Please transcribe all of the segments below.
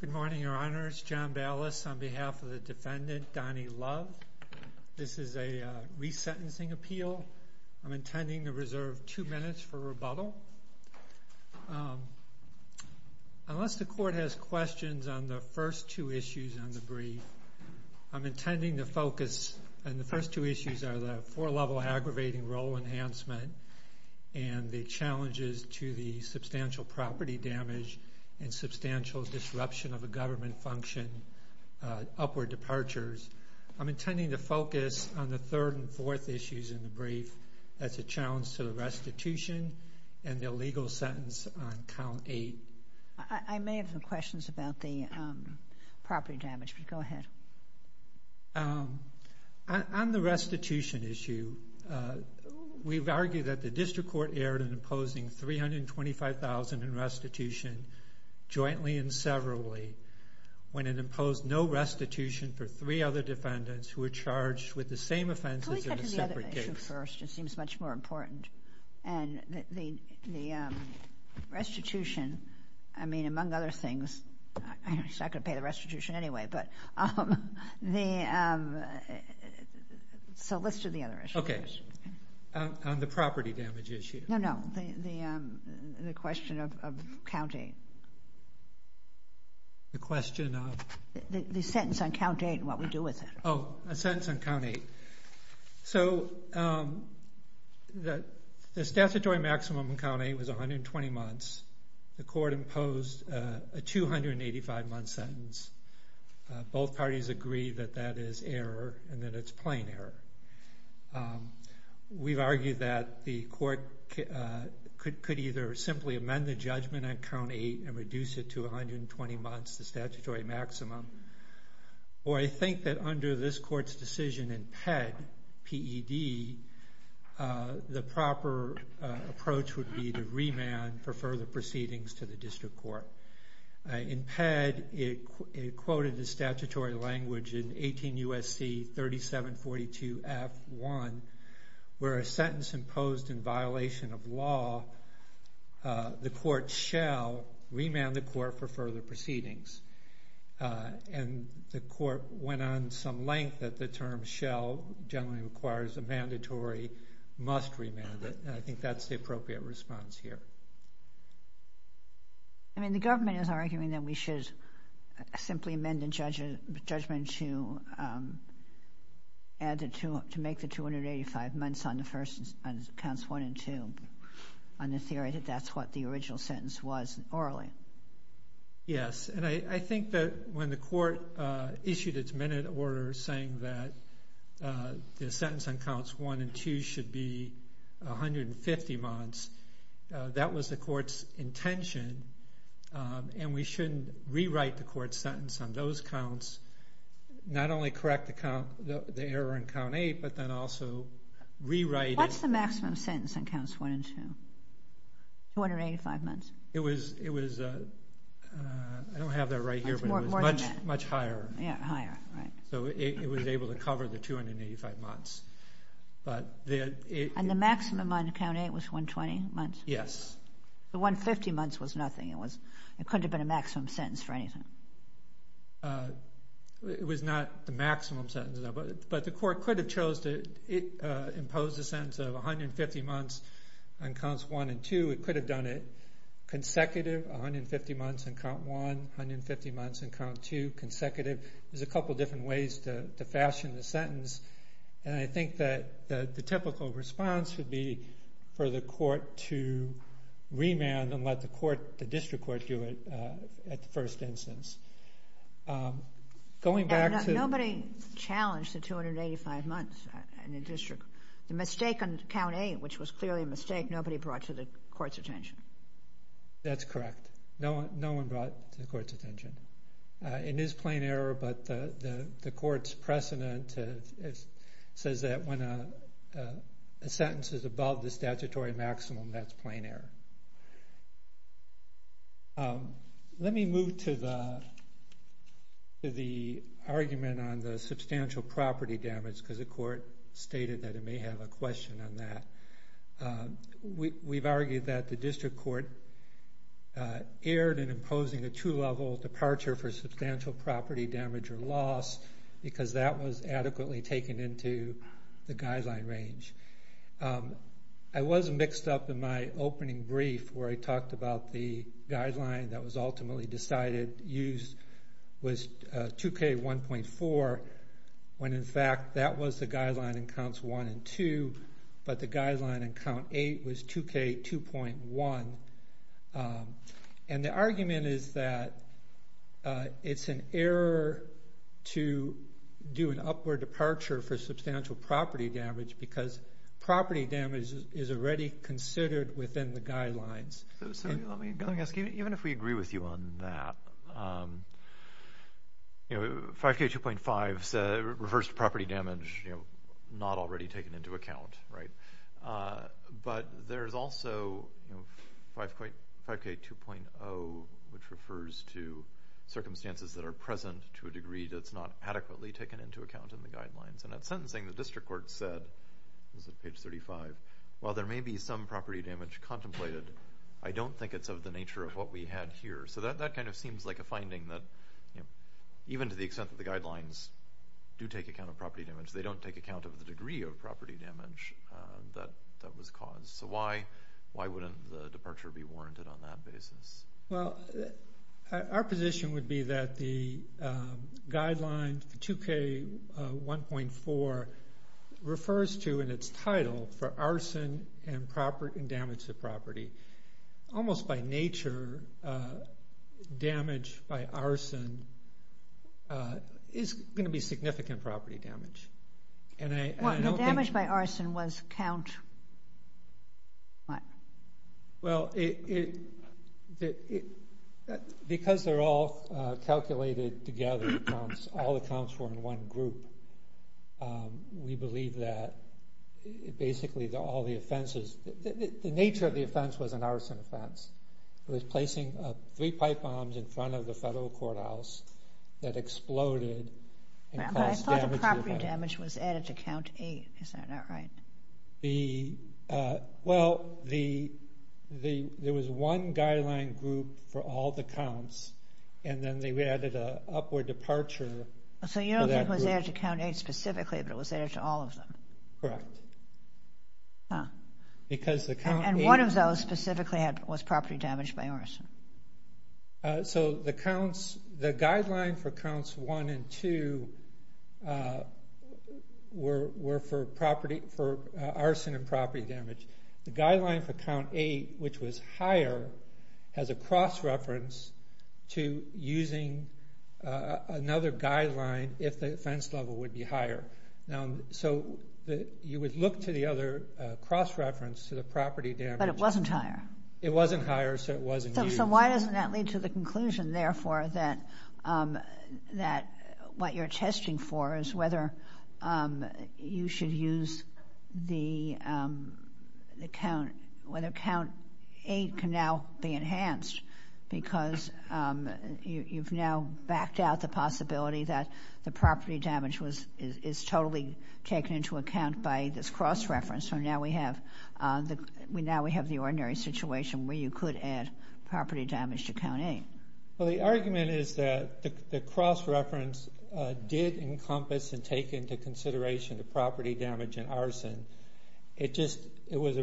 Good morning, Your Honors. John Ballas on behalf of the defendant Donny Love. This is a resentencing appeal. I'm intending to reserve two minutes for rebuttal. Unless the Court has questions on the first two issues on the brief, I'm intending to focus on the first two issues are the four-level aggravating role enhancement and the challenges to the damage and substantial disruption of a government function, upward departures. I'm intending to focus on the third and fourth issues in the brief. That's a challenge to the restitution and the legal sentence on count eight. I may have some questions about the property damage, but go ahead. On the restitution issue, we've argued that the District Court erred in imposing $325,000 in restitution jointly and severally when it imposed no restitution for three other defendants who were charged with the same offenses in a separate case. Let's get to the other issue first. It seems much more important. The restitution, I mean, among other things, I'm not going to pay the restitution anyway, but let's do the other issue first. Okay, on the property damage issue. No, no, the question of count eight. The question of? The sentence on count eight and what we do with it. Oh, a sentence on count eight. So, the statutory maximum on count eight was 120 months. The Court imposed a 285-month sentence. Both parties agree that that is error and that it's plain error. We've argued that the Court could either simply amend the judgment on count eight and reduce it to 120 months, the statutory maximum, or I think that under this Court's decision in PED, P-E-D, the proper approach would be to remand for further proceedings to the District Court. In PED, it quoted the statutory language in 18 U.S.C. 3742F1, where a sentence imposed in violation of law, the Court shall remand the Court for further proceedings. And the Court went on some length that the term shall generally requires a mandatory must remand, and I think that's the appropriate response here. I mean, the government is arguing that we should simply amend the judgment to make the 285 months on counts one and two on the theory that that's what the original sentence was orally. Yes, and I think that when the Court issued its minute order saying that the sentence on counts one and two should be 150 months, that was the Court's intention, and we shouldn't rewrite the Court's sentence on those counts, not only correct the error on count eight, but then also rewrite it. What's the maximum sentence on counts one and two, 285 months? It was, I don't have that right here, but it was much higher. Yeah, higher, right. So it was able to cover the 285 months. And the maximum on count eight was 120 months? Yes. The 150 months was nothing. It couldn't have been a maximum sentence for anything. It was not the maximum sentence, but the Court could have imposed a sentence of 150 months on counts one and two. It could have done it consecutive, 150 months on count one, 150 months on count two, consecutive. There's a couple of different ways to fashion the sentence, and I think that the typical response would be for the Court to remand and let the District Court do it at the first instance. Nobody challenged the 285 months in the District. The mistake on count eight, which was clearly a mistake, nobody brought to the Court's attention. That's correct. No one brought it to the Court's attention. It is plain error, but the Court's precedent says that when a sentence is above the statutory maximum, that's plain error. Let me move to the argument on the substantial property damage because the Court stated that it may have a question on that. We've argued that the District Court erred in imposing a two-level departure for substantial property damage or loss because that was adequately taken into the guideline range. I was mixed up in my opening brief where I talked about the guideline that was ultimately decided use was 2K1.4 when, in fact, that was the guideline in counts one and two, but the guideline in count eight was 2K2.1. The argument is that it's an error to do an upward departure for substantial property damage because property damage is already considered within the guidelines. Let me ask you, even if we agree with you on that, 5K2.5 refers to property damage not already taken into account. But there's also 5K2.0, which refers to circumstances that are present to a degree that's not adequately taken into account in the guidelines. In that sentencing, the District Court said, it was at page 35, while there may be some property damage contemplated, I don't think it's of the nature of what we had here. So that kind of seems like a finding that even to the extent that the guidelines do take account of property damage, they don't take account of the degree of property damage that was caused. So why wouldn't the departure be warranted on that basis? Well, our position would be that the guideline, 2K1.4, refers to in its title for arson and damage to property. Almost by nature, damage by arson is going to be significant property damage. The damage by arson was count what? Well, because they're all calculated together, all the counts were in one group, we believe that basically all the offenses, the nature of the offense was an arson offense. It was placing three pipe bombs in front of the federal courthouse that exploded. I thought the property damage was added to count eight. Is that not right? Well, there was one guideline group for all the counts, and then they added an upward departure. So you don't think it was added to count eight specifically, but it was added to all of them? Correct. And one of those specifically was property damage by arson. So the guideline for counts one and two were for arson and property damage. The guideline for count eight, which was higher, has a cross-reference to using another guideline if the offense level would be higher. So you would look to the other cross-reference to the property damage. But it wasn't higher. It wasn't higher, so it wasn't used. So why doesn't that lead to the conclusion, therefore, that what you're testing for is whether you should use the count, whether count eight can now be enhanced because you've now backed out the possibility that the property damage is totally taken into account by this cross-reference. So now we have the ordinary situation where you could add property damage to count eight. Well, the argument is that the cross-reference did encompass and take into consideration the property damage and arson. It was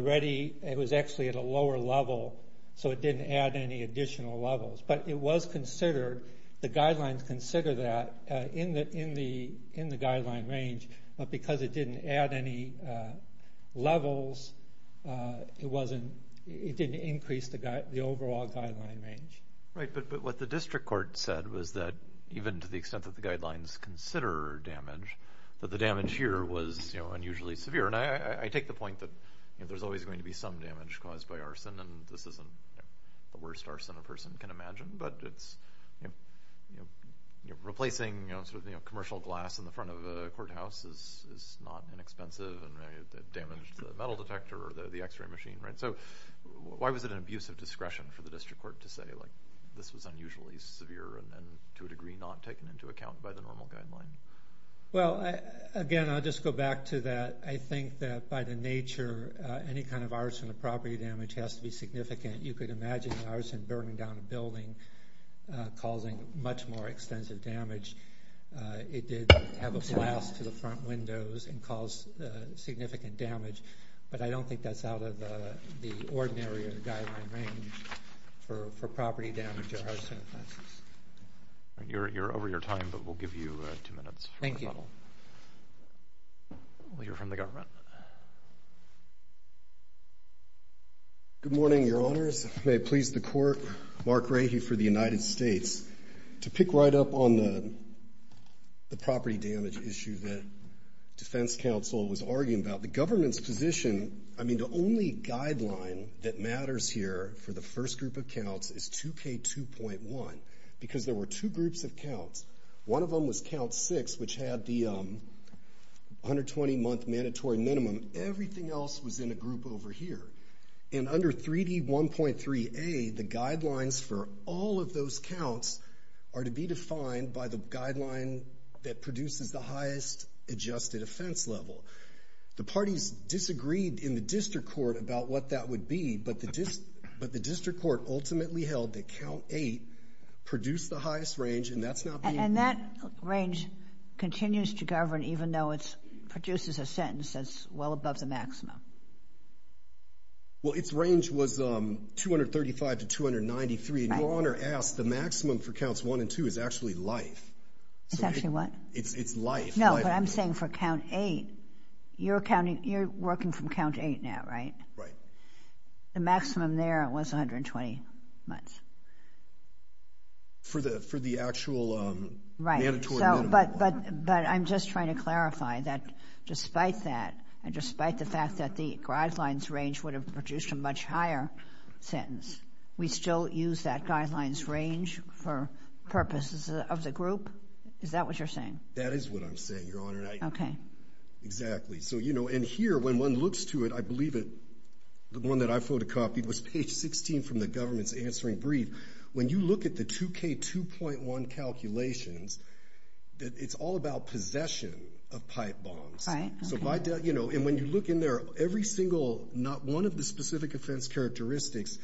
actually at a lower level, so it didn't add any additional levels. But it was considered, the guidelines consider that in the guideline range. But because it didn't add any levels, it didn't increase the overall guideline range. Right, but what the district court said was that even to the extent that the guidelines consider damage, that the damage here was unusually severe. And I take the point that there's always going to be some damage caused by arson, and this isn't the worst arson a person can imagine. But replacing commercial glass in the front of a courthouse is not inexpensive, and it damaged the metal detector or the X-ray machine. So why was it an abuse of discretion for the district court to say this was unusually severe and to a degree not taken into account by the normal guideline? Well, again, I'll just go back to that. I think that by the nature, any kind of arson or property damage has to be significant. You could imagine arson burning down a building, causing much more extensive damage. It did have a blast to the front windows and cause significant damage. But I don't think that's out of the ordinary guideline range for property damage or arson offenses. You're over your time, but we'll give you two minutes. Thank you. We'll hear from the government. Good morning, Your Honors. May it please the Court, Mark Rahe for the United States. To pick right up on the property damage issue that defense counsel was arguing about, the government's position, I mean, the only guideline that matters here for the first group of counts is 2K2.1, because there were two groups of counts. One of them was count six, which had the 120-month mandatory minimum. Everything else was in a group over here. And under 3D1.3A, the guidelines for all of those counts are to be defined by the guideline that produces the highest adjusted offense level. The parties disagreed in the district court about what that would be, but the district court ultimately held that count eight produced the highest range, and that's not being- And that range continues to govern, even though it produces a sentence that's well above the maximum. Well, its range was 235 to 293. And Your Honor asked, the maximum for counts one and two is actually life. It's actually what? It's life. No, but I'm saying for count eight, you're working from count eight now, right? Right. The maximum there was 120 months. For the actual mandatory minimum. Right, but I'm just trying to clarify that despite that, and despite the fact that the guidelines range would have produced a much higher sentence, we still use that guidelines range for purposes of the group? Is that what you're saying? That is what I'm saying, Your Honor. Okay. Exactly. And here, when one looks to it, I believe the one that I photocopied was page 16 from the government's answering brief. When you look at the 2K2.1 calculations, it's all about possession of pipe bombs. Right. And when you look in there, every single, not one of the specific offense characteristics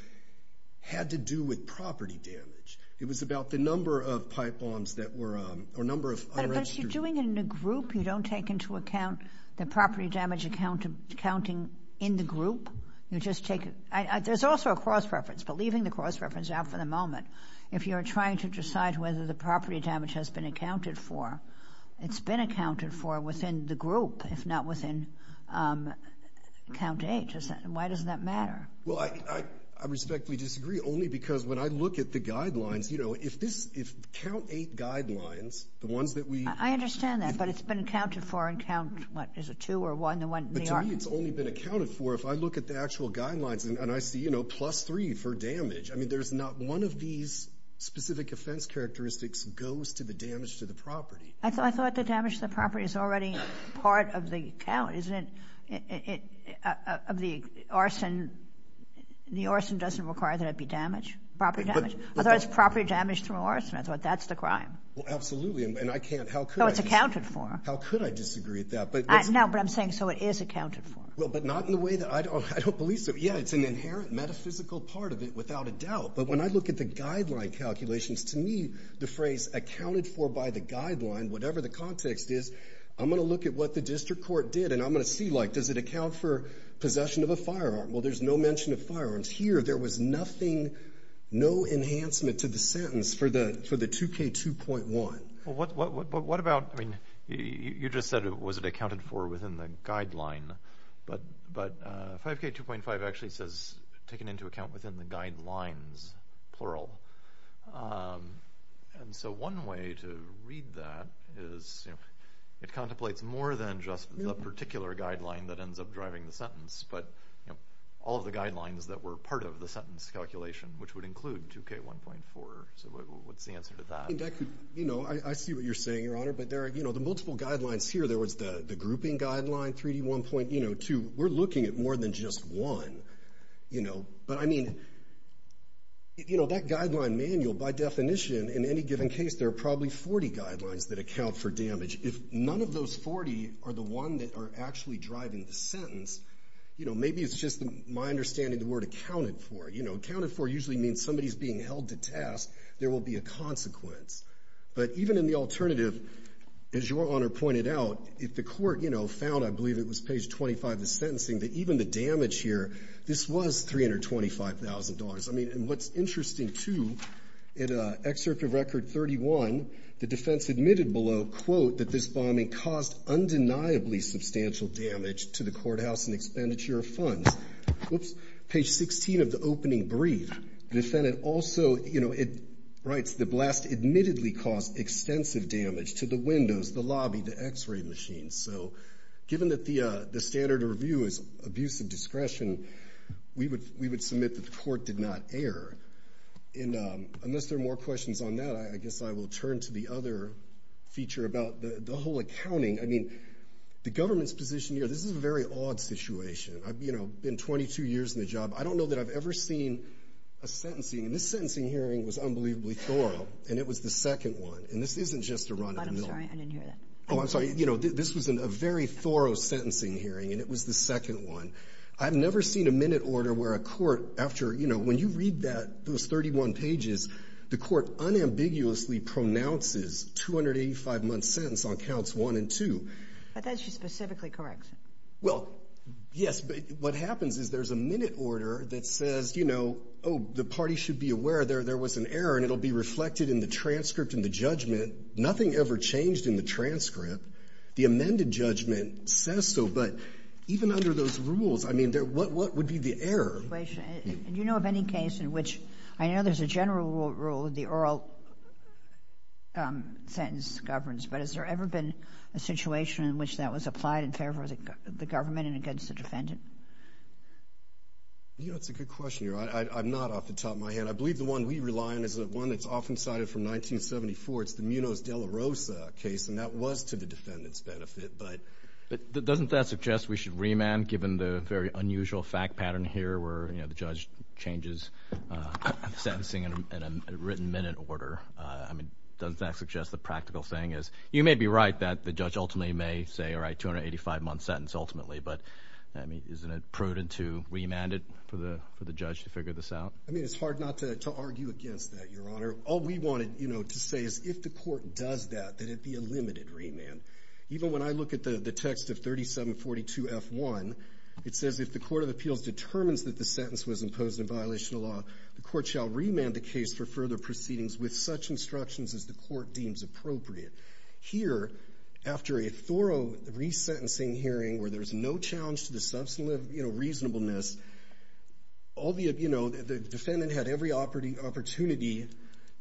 had to do with property damage. It was about the number of pipe bombs that were, or number of unregistered. But if you're doing it in a group, you don't take into account the property damage accounting in the group? You just take, there's also a cross-reference, but leaving the cross-reference out for the moment, if you're trying to decide whether the property damage has been accounted for, it's been accounted for within the group, if not within count eight. Why does that matter? Well, I respectfully disagree, only because when I look at the guidelines, you know, if this, if count eight guidelines, the ones that we- I understand that, but it's been accounted for in count, what, is it two or one? But to me, it's only been accounted for if I look at the actual guidelines and I see, you know, plus three for damage. I mean, there's not one of these specific offense characteristics goes to the damage to the property. I thought the damage to the property is already part of the count, isn't it? Of the arson, the arson doesn't require that it be damage, property damage. Although it's property damage through arson, I thought that's the crime. Well, absolutely. And I can't, how could I- So it's accounted for. How could I disagree with that? No, but I'm saying so it is accounted for. Well, but not in the way that I don't believe so. Yeah, it's an inherent metaphysical part of it without a doubt. But when I look at the guideline calculations, to me, the phrase accounted for by the guideline, whatever the context is, I'm going to look at what the district court did and I'm going to see, like, does it account for possession of a firearm? Well, there's no mention of firearms here. There was nothing, no enhancement to the sentence for the 2K2.1. Well, what about, I mean, you just said was it accounted for within the guideline, but 5K2.5 actually says taken into account within the guidelines, plural. And so one way to read that is it contemplates more than just the particular guideline that ends up driving the sentence, but all of the guidelines that were part of the sentence calculation, which would include 2K1.4. So what's the answer to that? You know, I see what you're saying, Your Honor. But there are, you know, the multiple guidelines here. There was the grouping guideline, 3D1.2. We're looking at more than just one, you know. But, I mean, you know, that guideline manual, by definition, in any given case, there are probably 40 guidelines that account for damage. If none of those 40 are the one that are actually driving the sentence, you know, maybe it's just my understanding the word accounted for. You know, accounted for usually means somebody's being held to task. There will be a consequence. But even in the alternative, as Your Honor pointed out, if the court, you know, found, I believe it was page 25 of the sentencing, that even the damage here, this was $325,000. I mean, and what's interesting, too, in Excerpt of Record 31, the defense admitted below, quote, that this bombing caused undeniably substantial damage to the courthouse and expenditure of funds. Oops. Page 16 of the opening brief. The defendant also, you know, writes, the blast admittedly caused extensive damage to the windows, the lobby, the x-ray machines. So given that the standard review is abuse of discretion, we would submit that the court did not err. And unless there are more questions on that, I guess I will turn to the other feature about the whole accounting. I mean, the government's position here, this is a very odd situation. I've, you know, been 22 years in the job. I don't know that I've ever seen a sentencing, and this sentencing hearing was unbelievably thorough, and it was the second one. And this isn't just a run of the mill. I'm sorry, I didn't hear that. Oh, I'm sorry. You know, this was a very thorough sentencing hearing, and it was the second one. I've never seen a minute order where a court, after, you know, when you read that, those 31 pages, the court unambiguously pronounces 285-month sentence on counts one and two. But that's just specifically correction. Well, yes. But what happens is there's a minute order that says, you know, oh, the party should be aware there was an error, and it will be reflected in the transcript and the judgment. Nothing ever changed in the transcript. The amended judgment says so. But even under those rules, I mean, what would be the error? And you know of any case in which I know there's a general rule, the oral sentence governs, but has there ever been a situation in which that was applied in favor of the government and against the defendant? You know, it's a good question. I'm not off the top of my head. I believe the one we rely on is the one that's often cited from 1974. It's the Munoz-De La Rosa case, and that was to the defendant's benefit. But doesn't that suggest we should remand, given the very unusual fact pattern here where, you know, the judge changes sentencing in a written minute order? I mean, doesn't that suggest the practical thing is you may be right that the judge ultimately may say, all right, 285-month sentence ultimately, but, I mean, isn't it prudent to remand it for the judge to figure this out? I mean, it's hard not to argue against that, Your Honor. All we wanted, you know, to say is if the court does that, that it be a limited remand. Even when I look at the text of 3742F1, it says, if the court of appeals determines that the sentence was imposed in violation of law, the court shall remand the case for further proceedings with such instructions as the court deems appropriate. Here, after a thorough resentencing hearing where there's no challenge to the substantive reasonableness, all the, you know, the defendant had every opportunity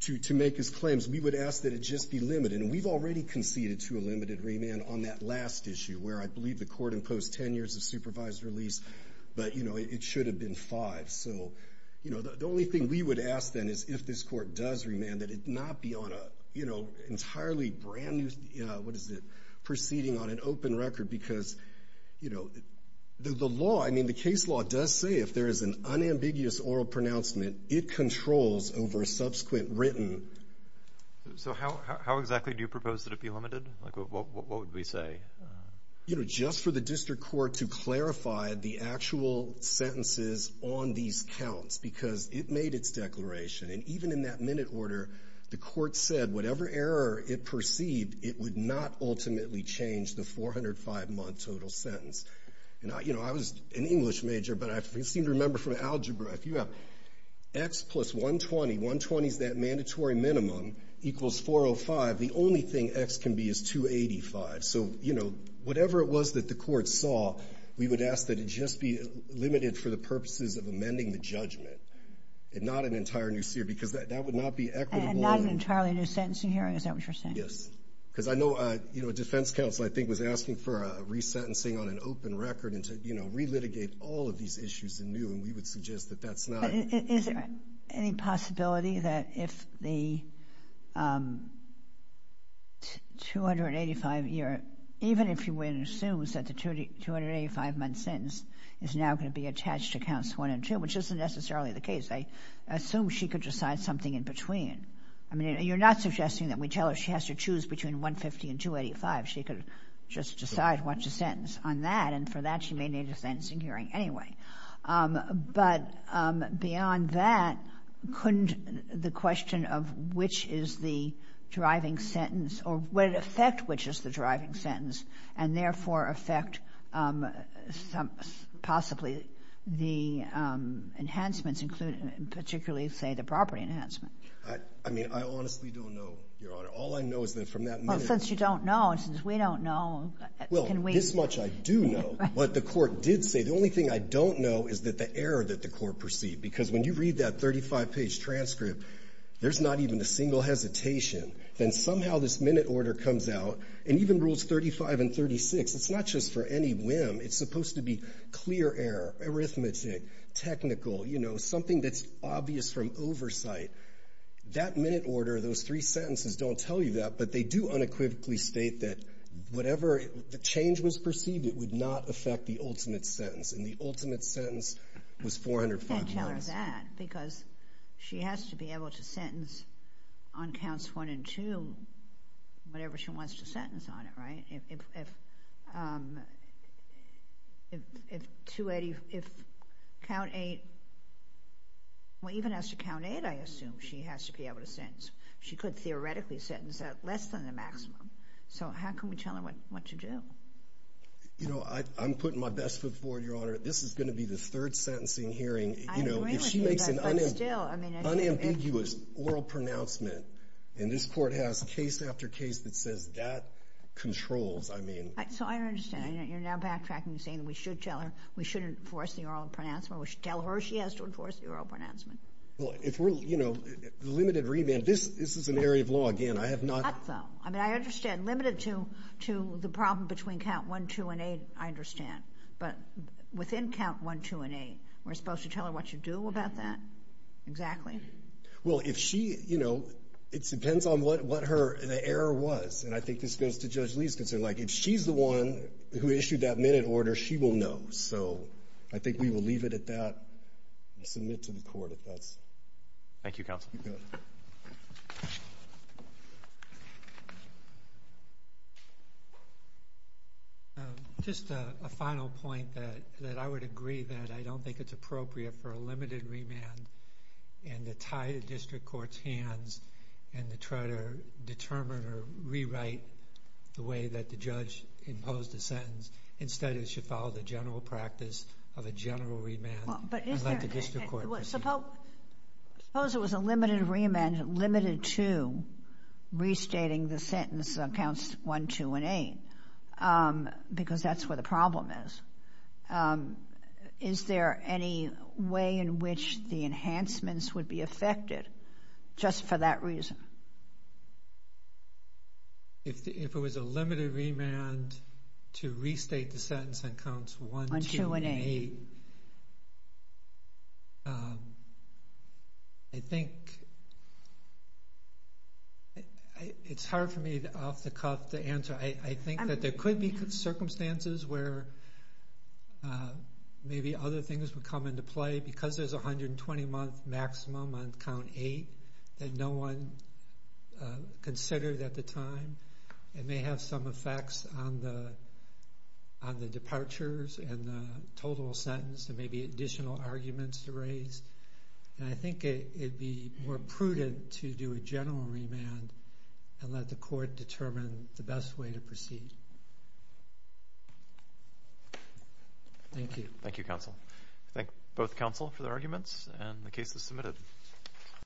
to make his claims. We would ask that it just be limited, and we've already conceded to a limited remand on that last issue, where I believe the court imposed 10 years of supervised release, but, you know, it should have been five. So, you know, the only thing we would ask then is if this court does remand that it not be on a, you know, entirely brand new, what is it, proceeding on an open record, because, you know, the law, I mean, the case law does say if there is an unambiguous oral pronouncement, it controls over a subsequent written. So how exactly do you propose that it be limited? Like, what would we say? You know, just for the district court to clarify the actual sentences on these counts, because it made its declaration, and even in that minute order, the court said whatever error it perceived, it would not ultimately change the 405-month total sentence. And, you know, I was an English major, but I seem to remember from algebra, if you have X plus 120, 120 is that mandatory minimum, equals 405, the only thing X can be is 285. So, you know, whatever it was that the court saw, we would ask that it just be limited for the purposes of amending the judgment, and not an entire new seer, because that would not be equitable. And not an entirely new sentencing hearing, is that what you're saying? Yes. Because I know, you know, a defense counsel, I think, was asking for a resentencing on an open record and to, you know, relitigate all of these issues anew, and we would suggest that that's not. Is there any possibility that if the 285-year, even if she assumes that the 285-month sentence is now going to be attached to counts one and two, which isn't necessarily the case, I assume she could decide something in between. I mean, you're not suggesting that we tell her she has to choose between 150 and 285. She could just decide what's the sentence on that, and for that she may need a sentencing hearing anyway. But beyond that, couldn't the question of which is the deriving sentence or would it affect which is the deriving sentence and therefore affect possibly the enhancements, particularly, say, the property enhancement? I mean, I honestly don't know, Your Honor. All I know is that from that minute to this point. Well, since you don't know and since we don't know, can we – This much I do know, what the Court did say. The only thing I don't know is that the error that the Court perceived, because when you read that 35-page transcript, there's not even a single hesitation. Then somehow this minute order comes out, and even Rules 35 and 36, it's not just for any whim. It's supposed to be clear error, arithmetic, technical, you know, something that's obvious from oversight. That minute order, those three sentences don't tell you that, but they do unequivocally state that whatever the change was perceived, it would not affect the ultimate sentence, and the ultimate sentence was 405 minutes. It can't tell her that because she has to be able to sentence on counts 1 and 2, whatever she wants to sentence on it, right? If count 8 – well, even as to count 8, I assume she has to be able to sentence. She could theoretically sentence at less than the maximum. So how can we tell her what to do? You know, I'm putting my best foot forward, Your Honor. This is going to be the third sentencing hearing. I agree with you, but still – If she makes an unambiguous oral pronouncement, and this Court has case after case that says that controls, I mean – So I understand. You're now backtracking and saying we should tell her we should enforce the oral pronouncement. We should tell her she has to enforce the oral pronouncement. Well, if we're – you know, the limited remand – this is an area of law. Again, I have not – Not though. I mean, I understand. Limited to the problem between count 1, 2, and 8, I understand. But within count 1, 2, and 8, we're supposed to tell her what to do about that? Exactly. Well, if she – you know, it depends on what her – the error was. And I think this goes to Judge Lee's concern. Like, if she's the one who issued that minute order, she will know. So I think we will leave it at that and submit to the Court if that's – Thank you, Counsel. Just a final point that I would agree that I don't think it's appropriate for a limited remand and to tie the district court's hands and to try to determine or rewrite the way that the judge imposed the sentence. Instead, it should follow the general practice of a general remand. I'd like the district court to proceed. Suppose it was a limited remand limited to restating the sentence on counts 1, 2, and 8 because that's where the problem is. Is there any way in which the enhancements would be affected just for that reason? If it was a limited remand to restate the sentence on counts 1, 2, and 8, I think – it's hard for me, off the cuff, to answer. I think that there could be circumstances where maybe other things would come into play. Because there's a 120-month maximum on count 8 that no one considered at the time, it may have some effects on the departures and the total sentence and maybe additional arguments to raise. And I think it would be more prudent to do a general remand and let the Court determine the best way to proceed. Thank you. Thank you, Counsel. I thank both Counsel for their arguments, and the case is submitted.